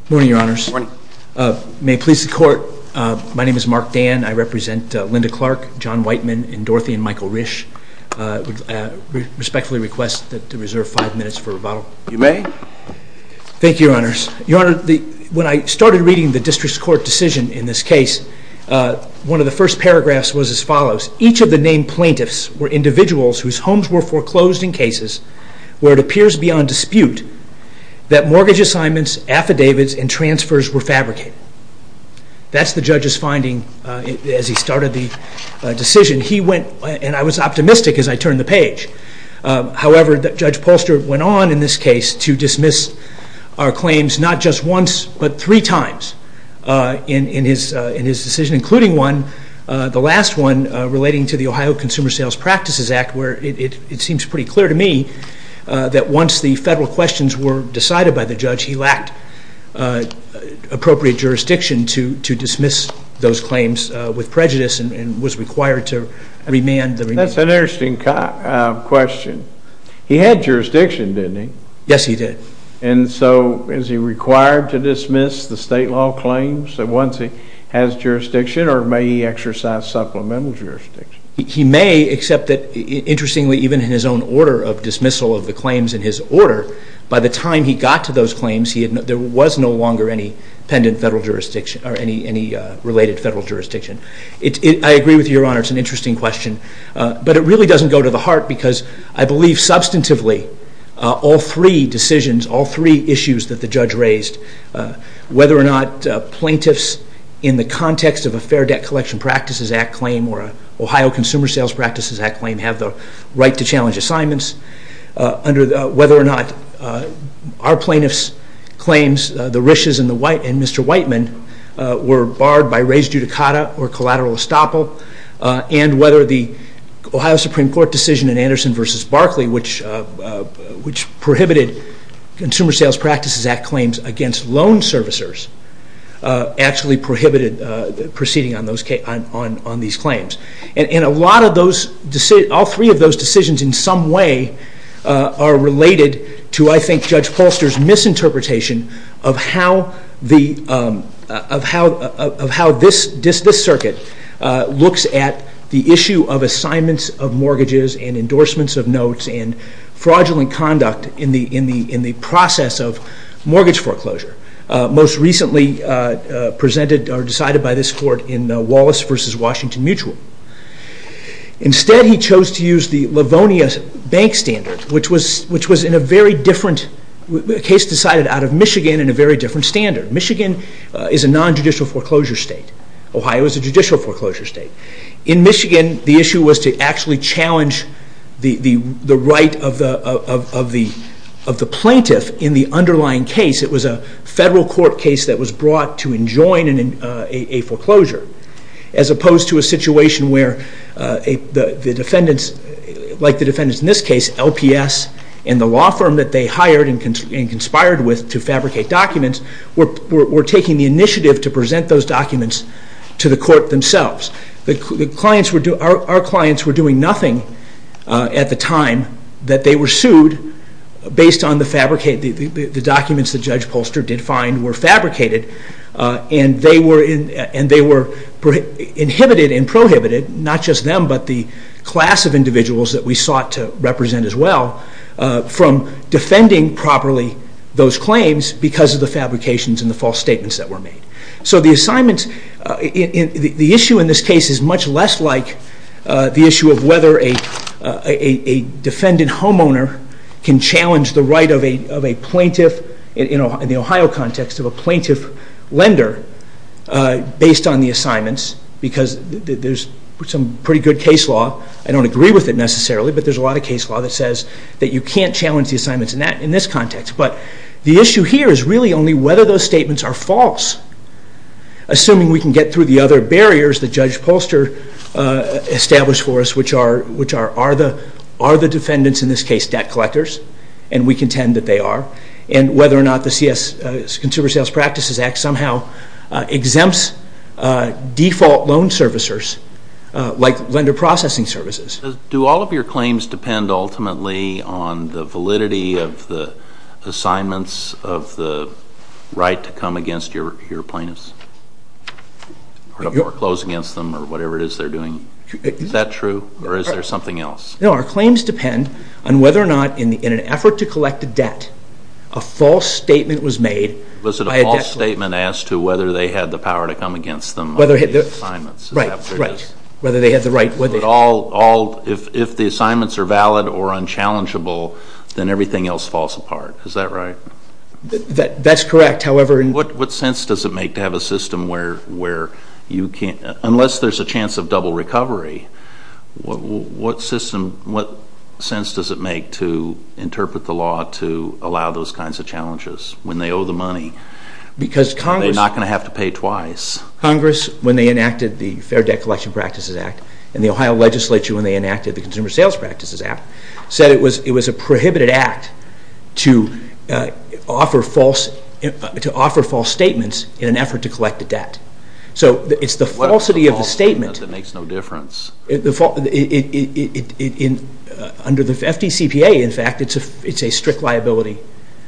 Good morning, your honors. Good morning. May it please the court, my name is Mark Dan, I represent Linda Clark, John Whiteman, and Dorothy and Michael Risch. I respectfully request to reserve five minutes for rebuttal. You may. Thank you, your honors. Your honor, when I started reading the district court decision in this case, one of the first paragraphs was as follows. Each of the named plaintiffs were individuals whose homes were foreclosed in cases where it appears beyond dispute that mortgage assignments, affidavits, and transfers were fabricated. That's the judge's finding as he started the decision. He went, and I was optimistic as I turned the page. However, Judge Polster went on in this case to dismiss our claims not just once, but three times in his decision, including one, the last one, relating to the Ohio Consumer Sales Practices Act, where it seems pretty clear to me that once the federal questions were decided by the judge, he lacked appropriate jurisdiction to dismiss those claims with prejudice and was required to remand the remand. That's an interesting question. He had jurisdiction, didn't he? Yes, he did. And so is he required to dismiss the state law claims once he has jurisdiction, or may he exercise supplemental jurisdiction? He may, except that, interestingly, even in his own order of dismissal of the judge's order, by the time he got to those claims, there was no longer any related federal jurisdiction. I agree with you, Your Honor. It's an interesting question, but it really doesn't go to the heart because I believe substantively all three decisions, all three issues that the judge raised, whether or not plaintiffs in the context of a Fair Debt Collection Practices Act claim or an Ohio Consumer Sales Practices Act claim have the right to challenge assignments, whether or not our plaintiff's claims, the Rish's and Mr. Whiteman, were barred by res judicata or collateral estoppel, and whether the Ohio Supreme Court decision in Anderson v. Barkley, which prohibited Consumer Sales Practices Act claims against loan servicers, actually prohibited proceeding on these claims. And a lot of those, all three of those decisions in some way are related to, I think, Judge Polster's misinterpretation of how this circuit looks at the issue of assignments of mortgages and endorsements of notes and fraudulent conduct in the process of mortgage foreclosure, most recently presented or decided by this Court in Wallace v. Washington Mutual. Instead he chose to use the Livonia Bank Standard, which was in a very different case, decided out of Michigan, in a very different standard. Michigan is a non-judicial foreclosure state. Ohio is a judicial foreclosure state. In Michigan the issue was to actually challenge the right of the plaintiff in the underlying case. It was a federal court case that was brought to enjoin a foreclosure, as opposed to a situation where the defendants, like the defendants in this case, LPS and the law firm that they hired and conspired with to fabricate documents, were taking the initiative to present those documents to the court themselves. Our clients were doing nothing at the time that they were sued based on the documents that Judge Polster did find were fabricated, and they were inhibited and prohibited, not just them, but the class of individuals that we sought to represent as well, from defending properly those claims because of the fabrications and the false statements that were made. So the assignment, the issue in this case is much less like the issue of whether a defendant homeowner can challenge the right of a plaintiff, in the Ohio context, of a plaintiff lender based on the assignments because there's some pretty good case law. I don't agree with it necessarily, but there's a lot of case law that says that you can't challenge the assignments in this context, but the issue here is really only whether those statements are false. Assuming we can get through the other barriers that Judge Polster established for us, which are are the defendants in this case debt collectors, and we contend that they are, and whether or not the Consumer Sales Practices Act somehow exempts default loan servicers like lender processing services. Do all of your claims depend ultimately on the validity of the assignments of the right to come against your plaintiffs, or close against them, or whatever it is they're doing? Is that true, or is there something else? No, our claims depend on whether or not, in an effort to collect a debt, a false statement was made. Was it a false statement as to whether they had the power to come against them on the assignments? Right, right. Whether they had the right... If the assignments are valid or unchallengeable, then everything else falls apart, is that right? That's correct, however... What sense does it make to have a system where you can't, unless there's a chance of double recovery, what system, what sense does it make to interpret the law to allow those kinds of challenges, when they owe the money? Because Congress... They're not going to have to pay twice. Congress, when they enacted the Fair Debt Collection Practices Act, and the Ohio legislature when they enacted the Consumer Sales Practices Act, said it was a prohibited act to offer false statements in an effort to collect a debt. So it's the falsity of the statement... Under the FDCPA, in fact, it's a strict liability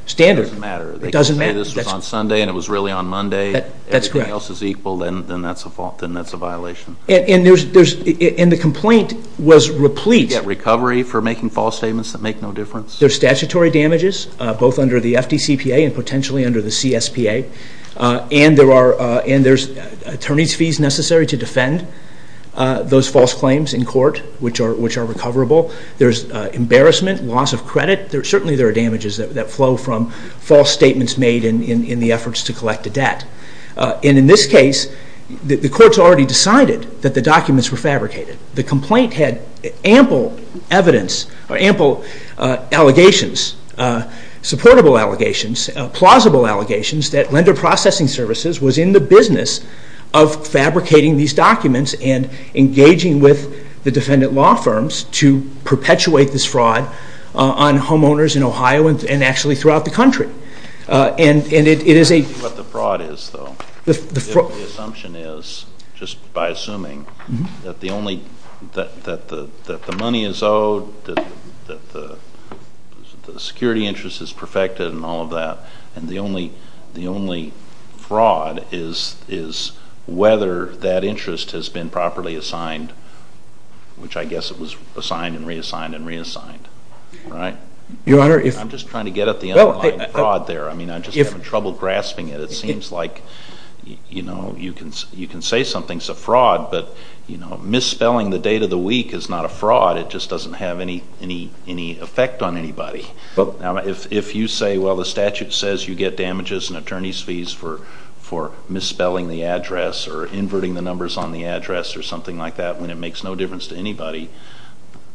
standard. It doesn't matter. They can say this was on Sunday and it was really on Monday. That's correct. If everything else is equal, then that's a violation. And the complaint was replete... You get recovery for making false statements that make no difference? There's statutory damages, both under the FDCPA and potentially under the CSPA, and there's attorney's fees necessary to defend those false claims in court, which are recoverable. There's embarrassment, loss of credit. Certainly there are damages that flow from false statements made in the efforts to collect a debt. And in this case, the courts already decided that the documents were fabricated. The complaint had ample evidence, ample allegations, supportable allegations, plausible allegations, that Lender Processing Services was in the business of fabricating these documents and engaging with the defendant law firms to perpetuate this fraud on homeowners in Ohio and actually throughout the country. I don't know what the fraud is, though. The assumption is, just by assuming, that the money is owed, that the security interest is perfected and all of that, and the only fraud is whether that interest has been properly assigned, which I guess it was assigned and reassigned and reassigned, right? Your Honor, if... I'm just trying to get at the underlying fraud there. I mean, I'm just having trouble grasping it. It seems like, you know, you can say something's a fraud, but, you know, misspelling the date of the week is not a fraud. It just doesn't have any effect on anybody. Now, if you say, well, the statute says you get damages and attorney's fees for misspelling the address or inverting the numbers on the address or something like that when it makes no difference to anybody,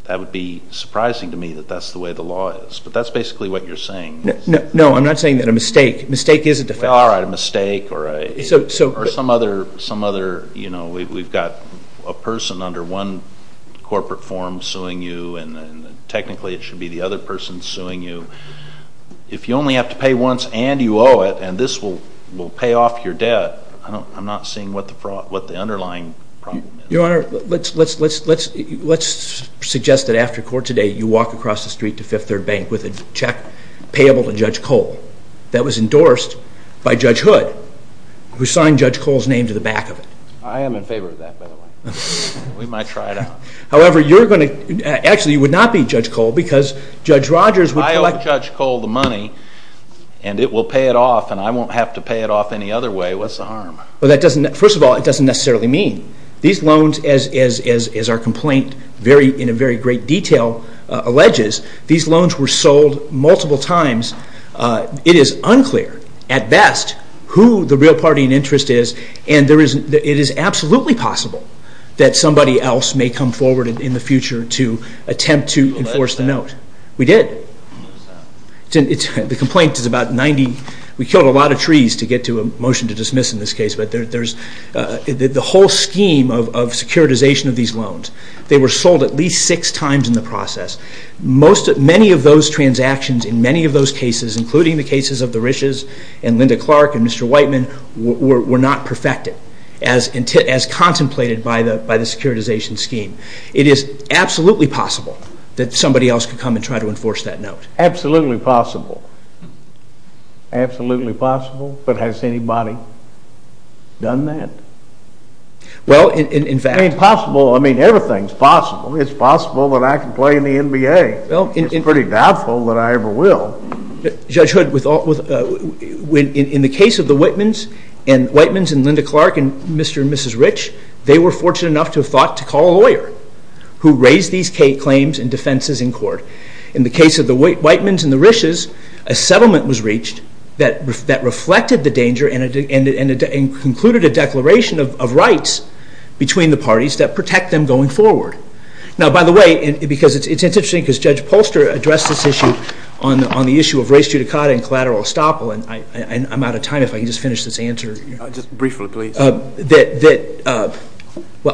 that would be surprising to me that that's the way the law is. But that's basically what you're saying. No, I'm not saying that a mistake. A mistake is a defect. All right, a mistake or some other, you know, we've got a person under one corporate form suing you and technically it should be the other person suing you. If you only have to pay once and you owe it and this will pay off your debt, I'm not seeing what the underlying problem is. Your Honor, let's suggest that after court today you walk across the street to Fifth Third Bank with a check payable to Judge Cole that was endorsed by Judge Hood, who signed Judge Cole's name to the back of it. I am in favor of that, by the way. We might try it out. However, you're going to, actually, you would not be Judge Cole because Judge Rogers would collect. If I owe Judge Cole the money and it will pay it off and I won't have to pay it off any other way, what's the harm? Well, that doesn't, first of all, it doesn't necessarily mean. These loans, as our complaint in a very great detail alleges, these loans were sold multiple times. It is unclear, at best, who the real party in interest is and it is absolutely possible that somebody else may come forward in the future to attempt to enforce the note. We did. The complaint is about 90, we killed a lot of trees to get to a motion to dismiss in this case, but the whole scheme of securitization of these loans, they were sold at least six times in the process. Many of those transactions in many of those cases, including the cases of the Riches and Linda Clark and Mr. Whiteman, were not perfected as contemplated by the securitization scheme. It is absolutely possible that somebody else could come and try to enforce that note. Absolutely possible. Absolutely possible, but has anybody done that? Well, in fact... I mean, possible, I mean, everything's possible. It's possible that I can play in the NBA. It's pretty doubtful that I ever will. Judge Hood, in the case of the Whitmans and Linda Clark and Mr. and Mrs. Rich, they were fortunate enough to have thought to call a lawyer who raised these claims and defenses in court. In the case of the Whitmans and the Riches, a settlement was reached that reflected the danger and concluded a declaration of rights between the parties that protect them going forward. Now, by the way, because it's interesting because Judge Polster addressed this issue on the issue of race judicata and collateral estoppel, and I'm out of time if I can just finish this answer. Just briefly, please. Well,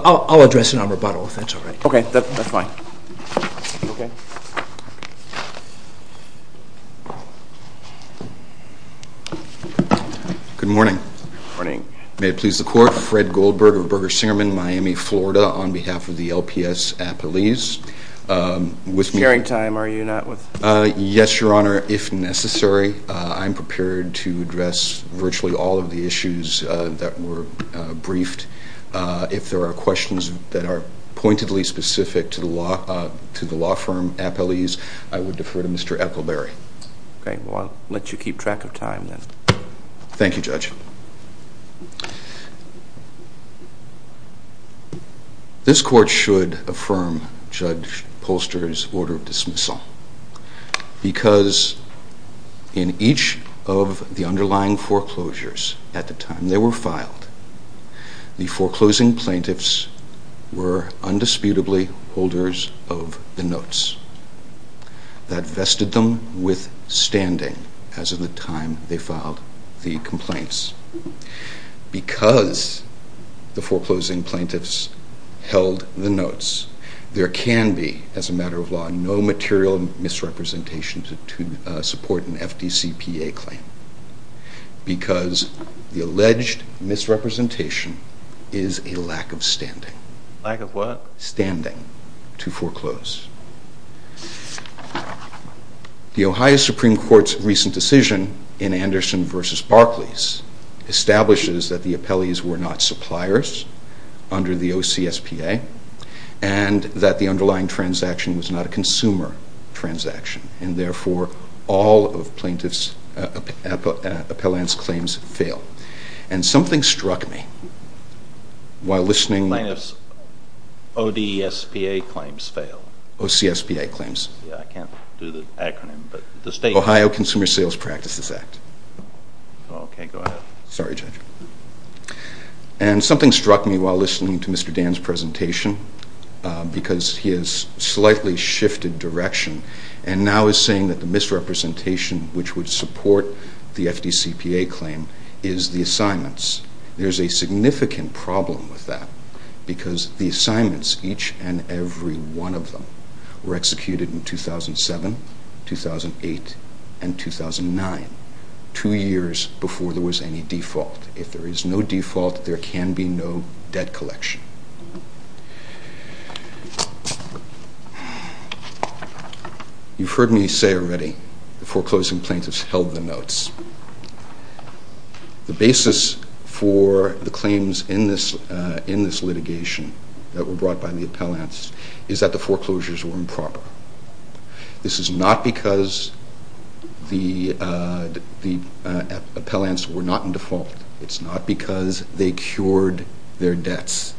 I'll address it on rebuttal if that's all right. Okay, that's fine. Okay. Good morning. Good morning. May it please the Court. Fred Goldberg of Berger-Singerman, Miami, Florida, on behalf of the LPS Appalese. Sharing time, are you not? Yes, Your Honor, if necessary. I'm prepared to address virtually all of the issues that were briefed. If there are questions that are pointedly specific to the law firm Appalese, I would defer to Mr. Ethelberry. Okay. Well, I'll let you keep track of time then. Thank you, Judge. This Court should affirm Judge Polster's order of dismissal because in each of the underlying foreclosures at the time they were filed, the foreclosing plaintiffs were undisputably holders of the notes that vested them with standing as of the time they filed the complaints. Because the foreclosing plaintiffs held the notes, there can be, as a matter of law, no material misrepresentation to support an FDCPA claim because the alleged misrepresentation is a lack of standing. Lack of what? Standing to foreclose. The Ohio Supreme Court's recent decision in Anderson v. Barclays establishes that the Appalese were not suppliers under the OCSPA and that the underlying transaction was not a consumer transaction and therefore all of Appalene's claims fail. And something struck me while listening... Plaintiffs' ODSPA claims fail. OCSPA claims. Yeah, I can't do the acronym, but the state... Ohio Consumer Sales Practices Act. Okay, go ahead. Sorry, Judge. And something struck me while listening to Mr. Dan's presentation because he has slightly shifted direction and now is saying that the misrepresentation which would support the FDCPA claim is the assignments. There's a significant problem with that because the assignments, each and every one of them, were executed in 2007, 2008, and 2009, two years before there was any default. If there is no default, there can be no debt collection. You've heard me say already the foreclosing plaintiffs held the notes. The basis for the claims in this litigation that were brought by the appellants is that the foreclosures were improper. This is not because the appellants were not in default. It's not because they cured their debts,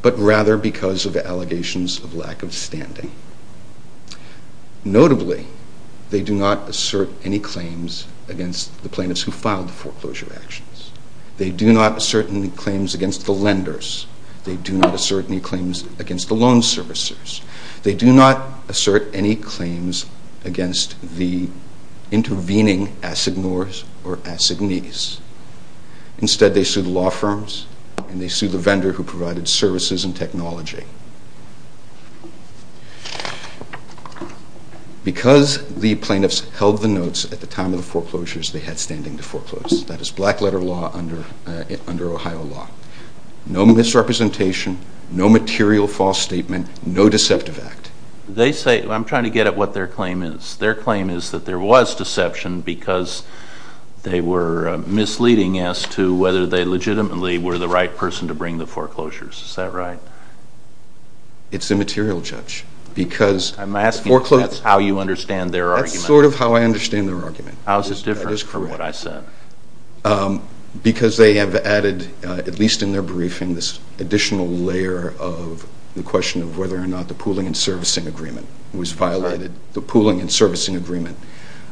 but rather because of allegations of lack of standing. Notably, they do not assert any claims against the plaintiffs who filed the foreclosure actions. They do not assert any claims against the lenders. They do not assert any claims against the loan servicers. They do not assert any claims against the intervening assignors or assignees. Instead, they sue the law firms and they sue the vendor who provided services and technology. Because the plaintiffs held the notes at the time of the foreclosures, they had standing to foreclose. That is black letter law under Ohio law. No misrepresentation, no material false statement, no deceptive act. I'm trying to get at what their claim is. Their claim is that there was deception because they were misleading as to whether they legitimately were the right person to bring the foreclosures. Is that right? It's immaterial, Judge. I'm asking if that's how you understand their argument. That's sort of how I understand their argument. How is it different from what I said? Because they have added, at least in their briefing, this additional layer of the question of whether or not the pooling and servicing agreement was violated. The pooling and servicing agreement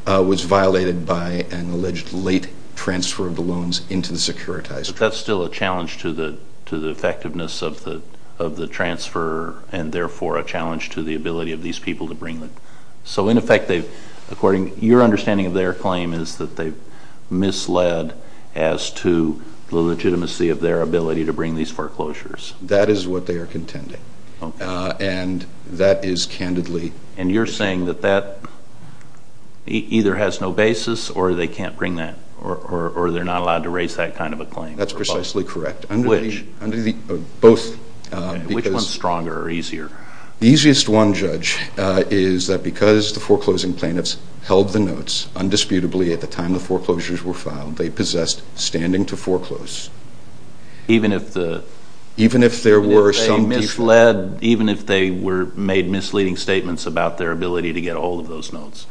was violated by an alleged late transfer of the loans into the securitized... But that's still a challenge to the effectiveness of the transfer and therefore a challenge to the ability of these people to bring them. So in effect, according to your understanding of their claim, their claim is that they misled as to the legitimacy of their ability to bring these foreclosures. That is what they are contending. And that is candidly... And you're saying that that either has no basis or they can't bring that, or they're not allowed to raise that kind of a claim. That's precisely correct. Which one's stronger or easier? The easiest one, Judge, is that because the foreclosing plaintiffs held the notes undisputably at the time the foreclosures were filed, they possessed standing to foreclose. Even if the... Even if there were some... Even if they made misleading statements about their ability to get hold of those notes.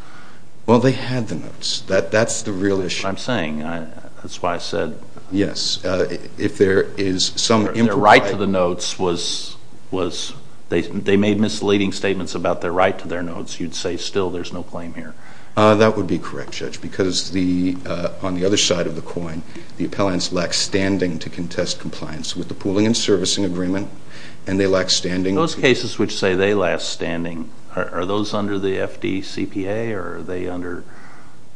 Well, they had the notes. That's the real issue. That's what I'm saying. That's why I said... Yes. If there is some... Their right to the notes was... They made misleading statements about their right to their notes. You'd say still there's no claim here. That would be correct, Judge, because on the other side of the coin, the appellants lack standing to contest compliance with the pooling and servicing agreement, and they lack standing... Those cases which say they lack standing, are those under the FDCPA, or are they under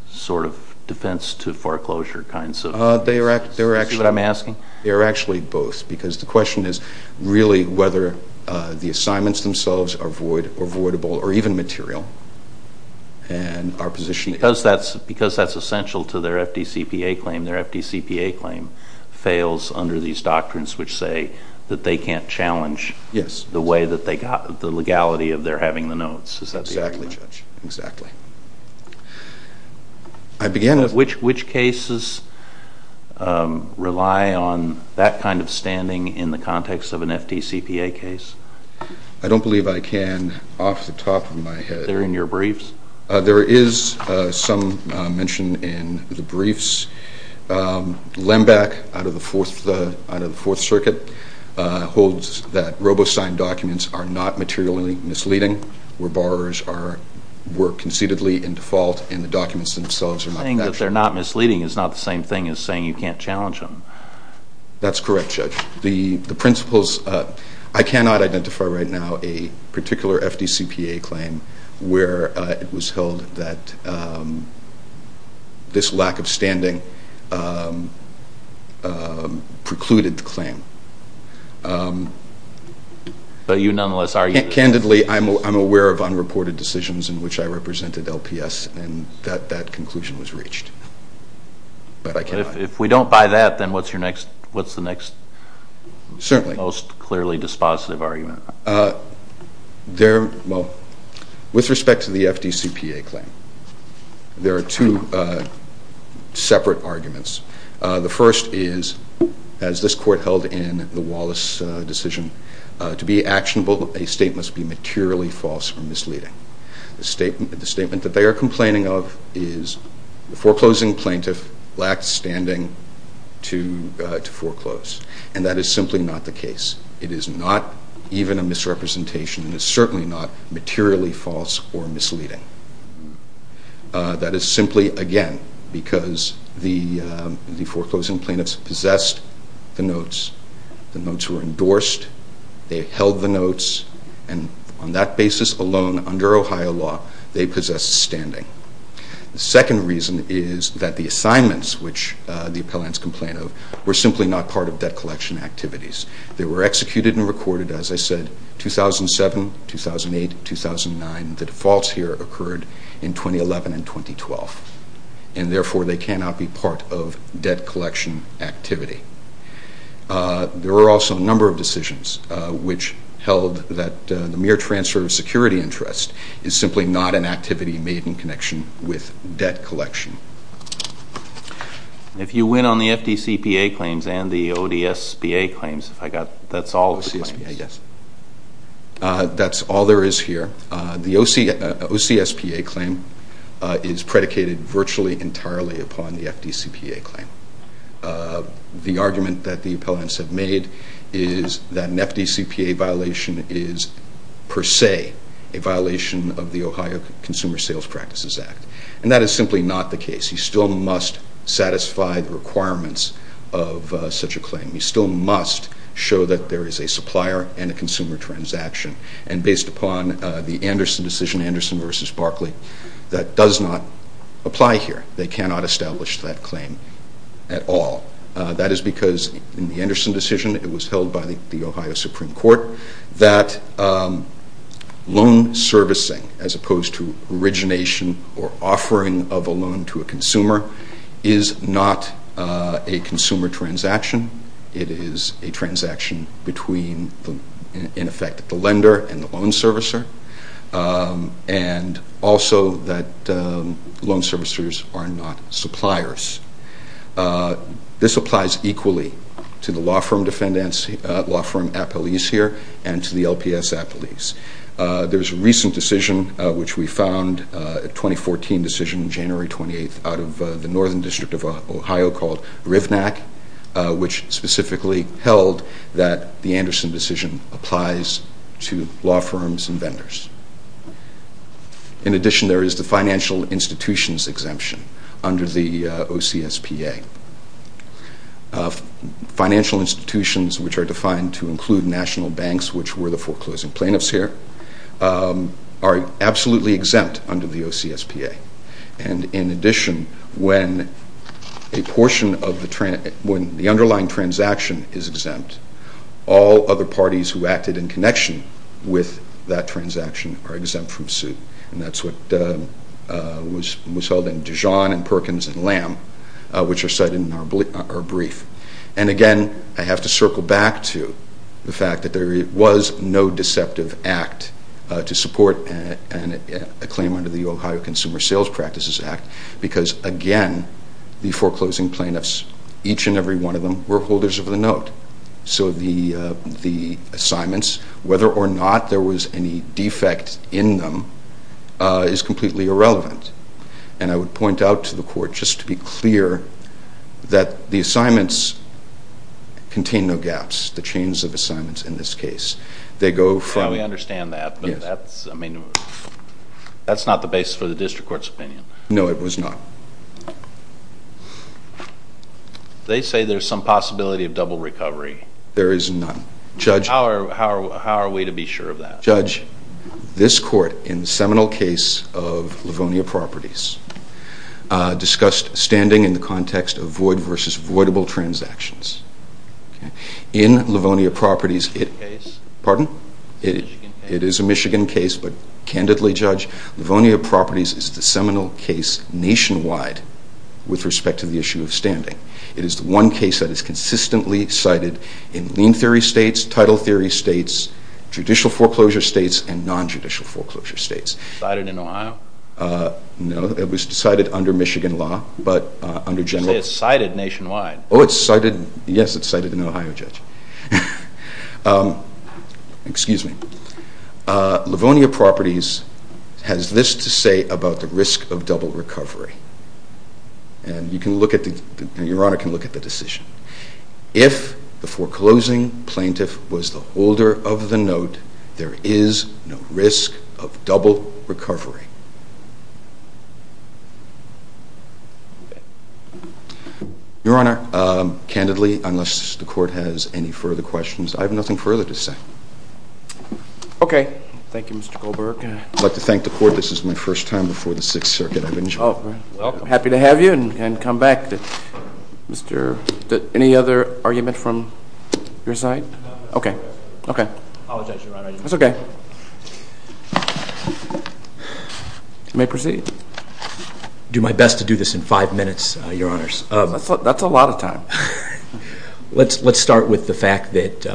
sort of defense-to-foreclosure kinds of... See what I'm asking? They're actually both, because the question is really whether the assignments themselves are void or voidable, or even material. And our position... Because that's essential to their FDCPA claim, their FDCPA claim fails under these doctrines which say that they can't challenge the way that they got... the legality of their having the notes. Is that the argument? Exactly, Judge. Exactly. I began... Which cases rely on that kind of standing in the context of an FDCPA case? I don't believe I can, off the top of my head... They're in your briefs? There is some mention in the briefs. Lembeck, out of the Fourth Circuit, holds that RoboSign documents are not materially misleading, where borrowers work conceitedly in default, and the documents themselves are not... Saying that they're not misleading is not the same thing as saying you can't challenge them. That's correct, Judge. The principles... I cannot identify right now a particular FDCPA claim where it was held that this lack of standing precluded the claim. But you nonetheless argue... Candidly, I'm aware of unreported decisions in which I represented LPS, and that conclusion was reached. But I cannot. If you don't buy that, then what's the next... Certainly. ...most clearly dispositive argument? There... Well, with respect to the FDCPA claim, there are two separate arguments. The first is, as this Court held in the Wallace decision, to be actionable, a statement must be materially false or misleading. The statement that they are complaining of is the foreclosing plaintiff lacked standing to foreclose, and that is simply not the case. It is not even a misrepresentation, and it's certainly not materially false or misleading. That is simply, again, because the foreclosing plaintiffs possessed the notes, the notes were endorsed, they held the notes, and on that basis alone, under Ohio law, they possessed standing. The second reason is that the assignments, which the appellants complain of, were simply not part of debt collection activities. They were executed and recorded, as I said, 2007, 2008, 2009. The defaults here occurred in 2011 and 2012, and therefore they cannot be part of debt collection activity. There were also a number of decisions which held that the mere transfer of security interest is simply not an activity made in connection with debt collection. If you win on the FDCPA claims and the ODSPA claims, that's all of the claims? OCSPA, yes. That's all there is here. The OCSPA claim is predicated virtually entirely upon the FDCPA claim. The argument that the appellants have made is that an FDCPA violation is per se a violation of the Ohio Consumer Sales Practices Act, and that is simply not the case. You still must satisfy the requirements of such a claim. You still must show that there is a supplier and a consumer transaction, and based upon the Anderson decision, Anderson v. Barkley, that does not apply here. They cannot establish that claim at all. That is because in the Anderson decision, it was held by the Ohio Supreme Court, that loan servicing, as opposed to origination or offering of a loan to a consumer, is not a consumer transaction. It is a transaction between, in effect, the lender and the loan servicer, and also that loan servicers are not suppliers. This applies equally to the law firm appellees here and to the LPS appellees. There is a recent decision, which we found, a 2014 decision, January 28th, out of the Northern District of Ohio called Rivnak, which specifically held that the Anderson decision applies to law firms and vendors. In addition, there is the financial institutions exemption under the OCSPA. Financial institutions, which are defined to include national banks, which were the foreclosing plaintiffs here, are absolutely exempt under the OCSPA. In addition, when the underlying transaction is exempt, all other parties who acted in connection with that transaction are exempt from suit. And that's what was held in Dijon and Perkins and Lamb, which are cited in our brief. And again, I have to circle back to the fact that there was no deceptive act to support a claim under the Ohio Consumer Sales Practices Act because, again, the foreclosing plaintiffs, each and every one of them, were holders of the note. So the assignments, whether or not there was any defect in them, is completely irrelevant. And I would point out to the Court, just to be clear, that the assignments contain no gaps, the chains of assignments in this case. They go from... Now, we understand that, but that's not the basis for the District Court's opinion. No, it was not. They say there's some possibility of double recovery. There is none. Judge... How are we to be sure of that? Judge, this Court, in the seminal case of Livonia Properties, discussed standing in the context of void versus voidable transactions. In Livonia Properties... Pardon? It is a Michigan case, but candidly, Judge, Livonia Properties is the seminal case nationwide with respect to the issue of standing. It is the one case that is consistently cited in lien theory states, title theory states, judicial foreclosure states, and non-judicial foreclosure states. Cited in Ohio? No, it was cited under Michigan law, but under general... You say it's cited nationwide. Oh, it's cited... Yes, it's cited in Ohio, Judge. Excuse me. Livonia Properties has this to say about the risk of double recovery, and Your Honor can look at the decision. If the foreclosing plaintiff was the holder of the note, there is no risk of double recovery. Your Honor, candidly, unless the Court has any further questions, I have nothing further to say. Okay. Thank you, Mr. Goldberg. I'd like to thank the Court. This is my first time before the Sixth Circuit. I've enjoyed it. Well, I'm happy to have you and come back. Any other argument from your side? No. Okay. I apologize, Your Honor. That's okay. You may proceed. I'll do my best to do this in five minutes, Your Honors. That's a lot of time. Let's start with the fact that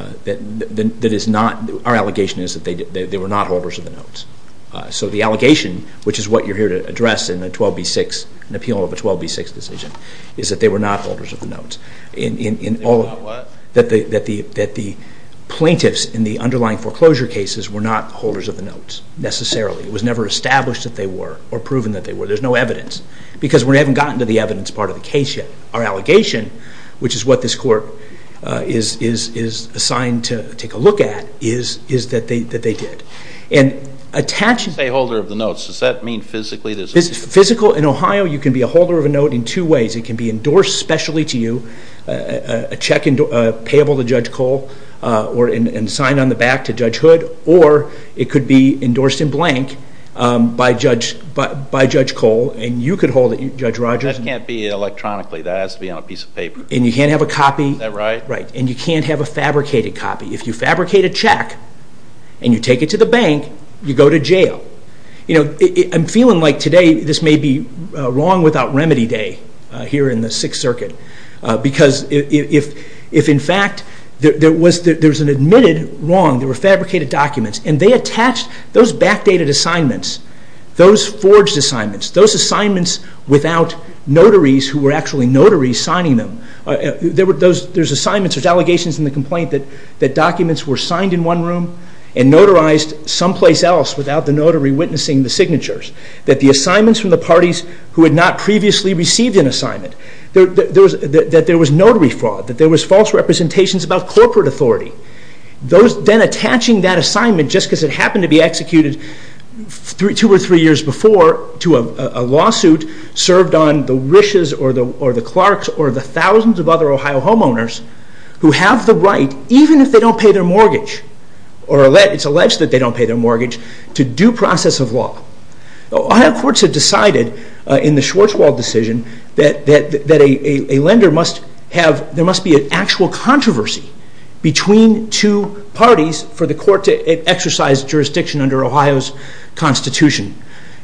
our allegation is that they were not holders of the notes. So the allegation, which is what you're here to address in an appeal of a 12B6 decision, is that they were not holders of the notes. They were not what? That the plaintiffs in the underlying foreclosure cases were not holders of the notes, necessarily. It was never established that they were or proven that they were. There's no evidence. Because we haven't gotten to the evidence part of the case yet. Our allegation, which is what this court is assigned to take a look at, is that they did. And attached to a holder of the notes, does that mean physically there's a holder? Physical. In Ohio, you can be a holder of a note in two ways. It can be endorsed specially to you, a check payable to Judge Cole and signed on the back to Judge Hood. Or it could be endorsed in blank by Judge Cole, and you could hold it, Judge Rogers. That can't be electronically. That has to be on a piece of paper. And you can't have a copy. Is that right? Right. And you can't have a fabricated copy. If you fabricate a check, and you take it to the bank, you go to jail. I'm feeling like today this may be wrong without remedy day here in the Sixth Circuit. Because if in fact there was an admitted wrong, there were fabricated documents, and they attached those backdated assignments, those forged assignments, those assignments without notaries who were actually notaries signing them. There's assignments, there's allegations in the complaint that documents were signed in one room and notarized someplace else without the notary witnessing the signatures. That the assignments from the parties who had not previously received an assignment, that there was notary fraud, that there was false representations about corporate authority. Then attaching that assignment just because it happened to be executed two or three years before to a lawsuit served on the wishes or the clerks or the thousands of other Ohio homeowners who have the right, even if they don't pay their mortgage, or it's alleged that they don't pay their mortgage, to due process of law. Ohio courts have decided in the Schwarzwald decision that a lender must have, there must be an actual controversy between two parties for the court to exercise jurisdiction under Ohio's Constitution,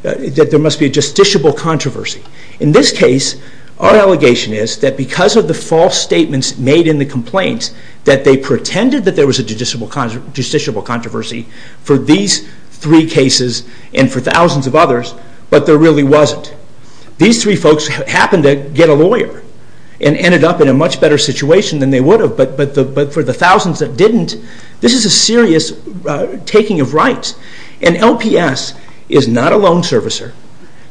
that there must be a justiciable controversy. In this case, our allegation is that because of the false statements made in the complaint that they pretended that there was a justiciable controversy for these three cases and for thousands of others, but there really wasn't. These three folks happened to get a lawyer and ended up in a much better situation than they would have, but for the thousands that didn't, this is a serious taking of rights. And LPS is not a loan servicer.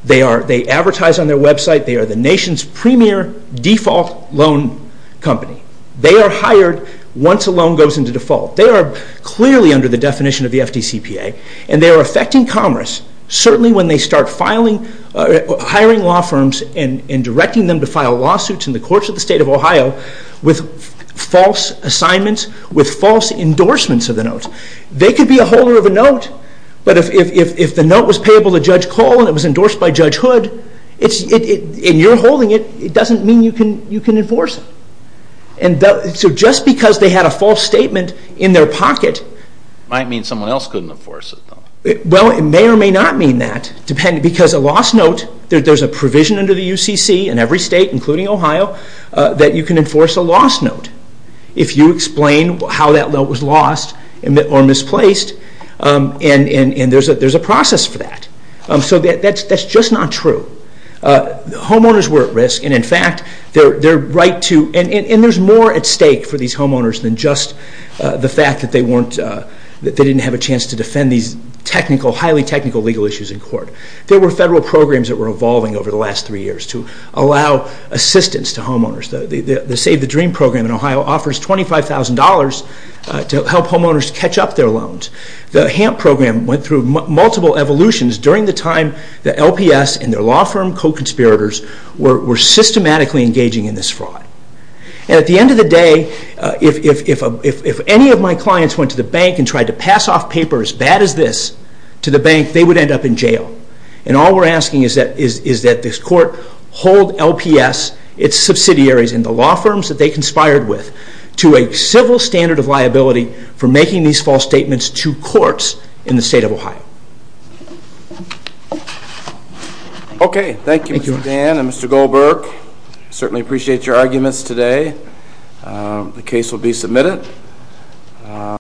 They advertise on their website. They are the nation's premier default loan company. They are hired once a loan goes into default. They are clearly under the definition of the FDCPA, and they are affecting commerce, certainly when they start hiring law firms and directing them to file lawsuits in the courts of the state of Ohio with false assignments, with false endorsements of the notes. They could be a holder of a note, but if the note was payable to Judge Cole and it was endorsed by Judge Hood, and you're holding it, it doesn't mean you can enforce it. So just because they had a false statement in their pocket... Might mean someone else couldn't enforce it, though. Well, it may or may not mean that, because a lost note, there's a provision under the UCC in every state, including Ohio, that you can enforce a lost note if you explain how that note was lost or misplaced, and there's a process for that. So that's just not true. Homeowners were at risk, and in fact, their right to... And there's more at stake for these homeowners than just the fact that they didn't have a chance to defend these highly technical legal issues in court. There were federal programs that were evolving over the last three years to allow assistance to homeowners. The Save the Dream program in Ohio offers $25,000 to help homeowners catch up their loans. The HAMP program went through multiple evolutions during the time the LPS and their law firm co-conspirators were systematically engaging in this fraud. And at the end of the day, if any of my clients went to the bank and tried to pass off paper as bad as this to the bank, they would end up in jail. And all we're asking is that this court hold LPS, its subsidiaries, and the law firms that they conspired with, to a civil standard of liability for making these false statements to courts in the state of Ohio. Okay, thank you, Mr. Dan and Mr. Goldberg. Certainly appreciate your arguments today. The case will be submitted.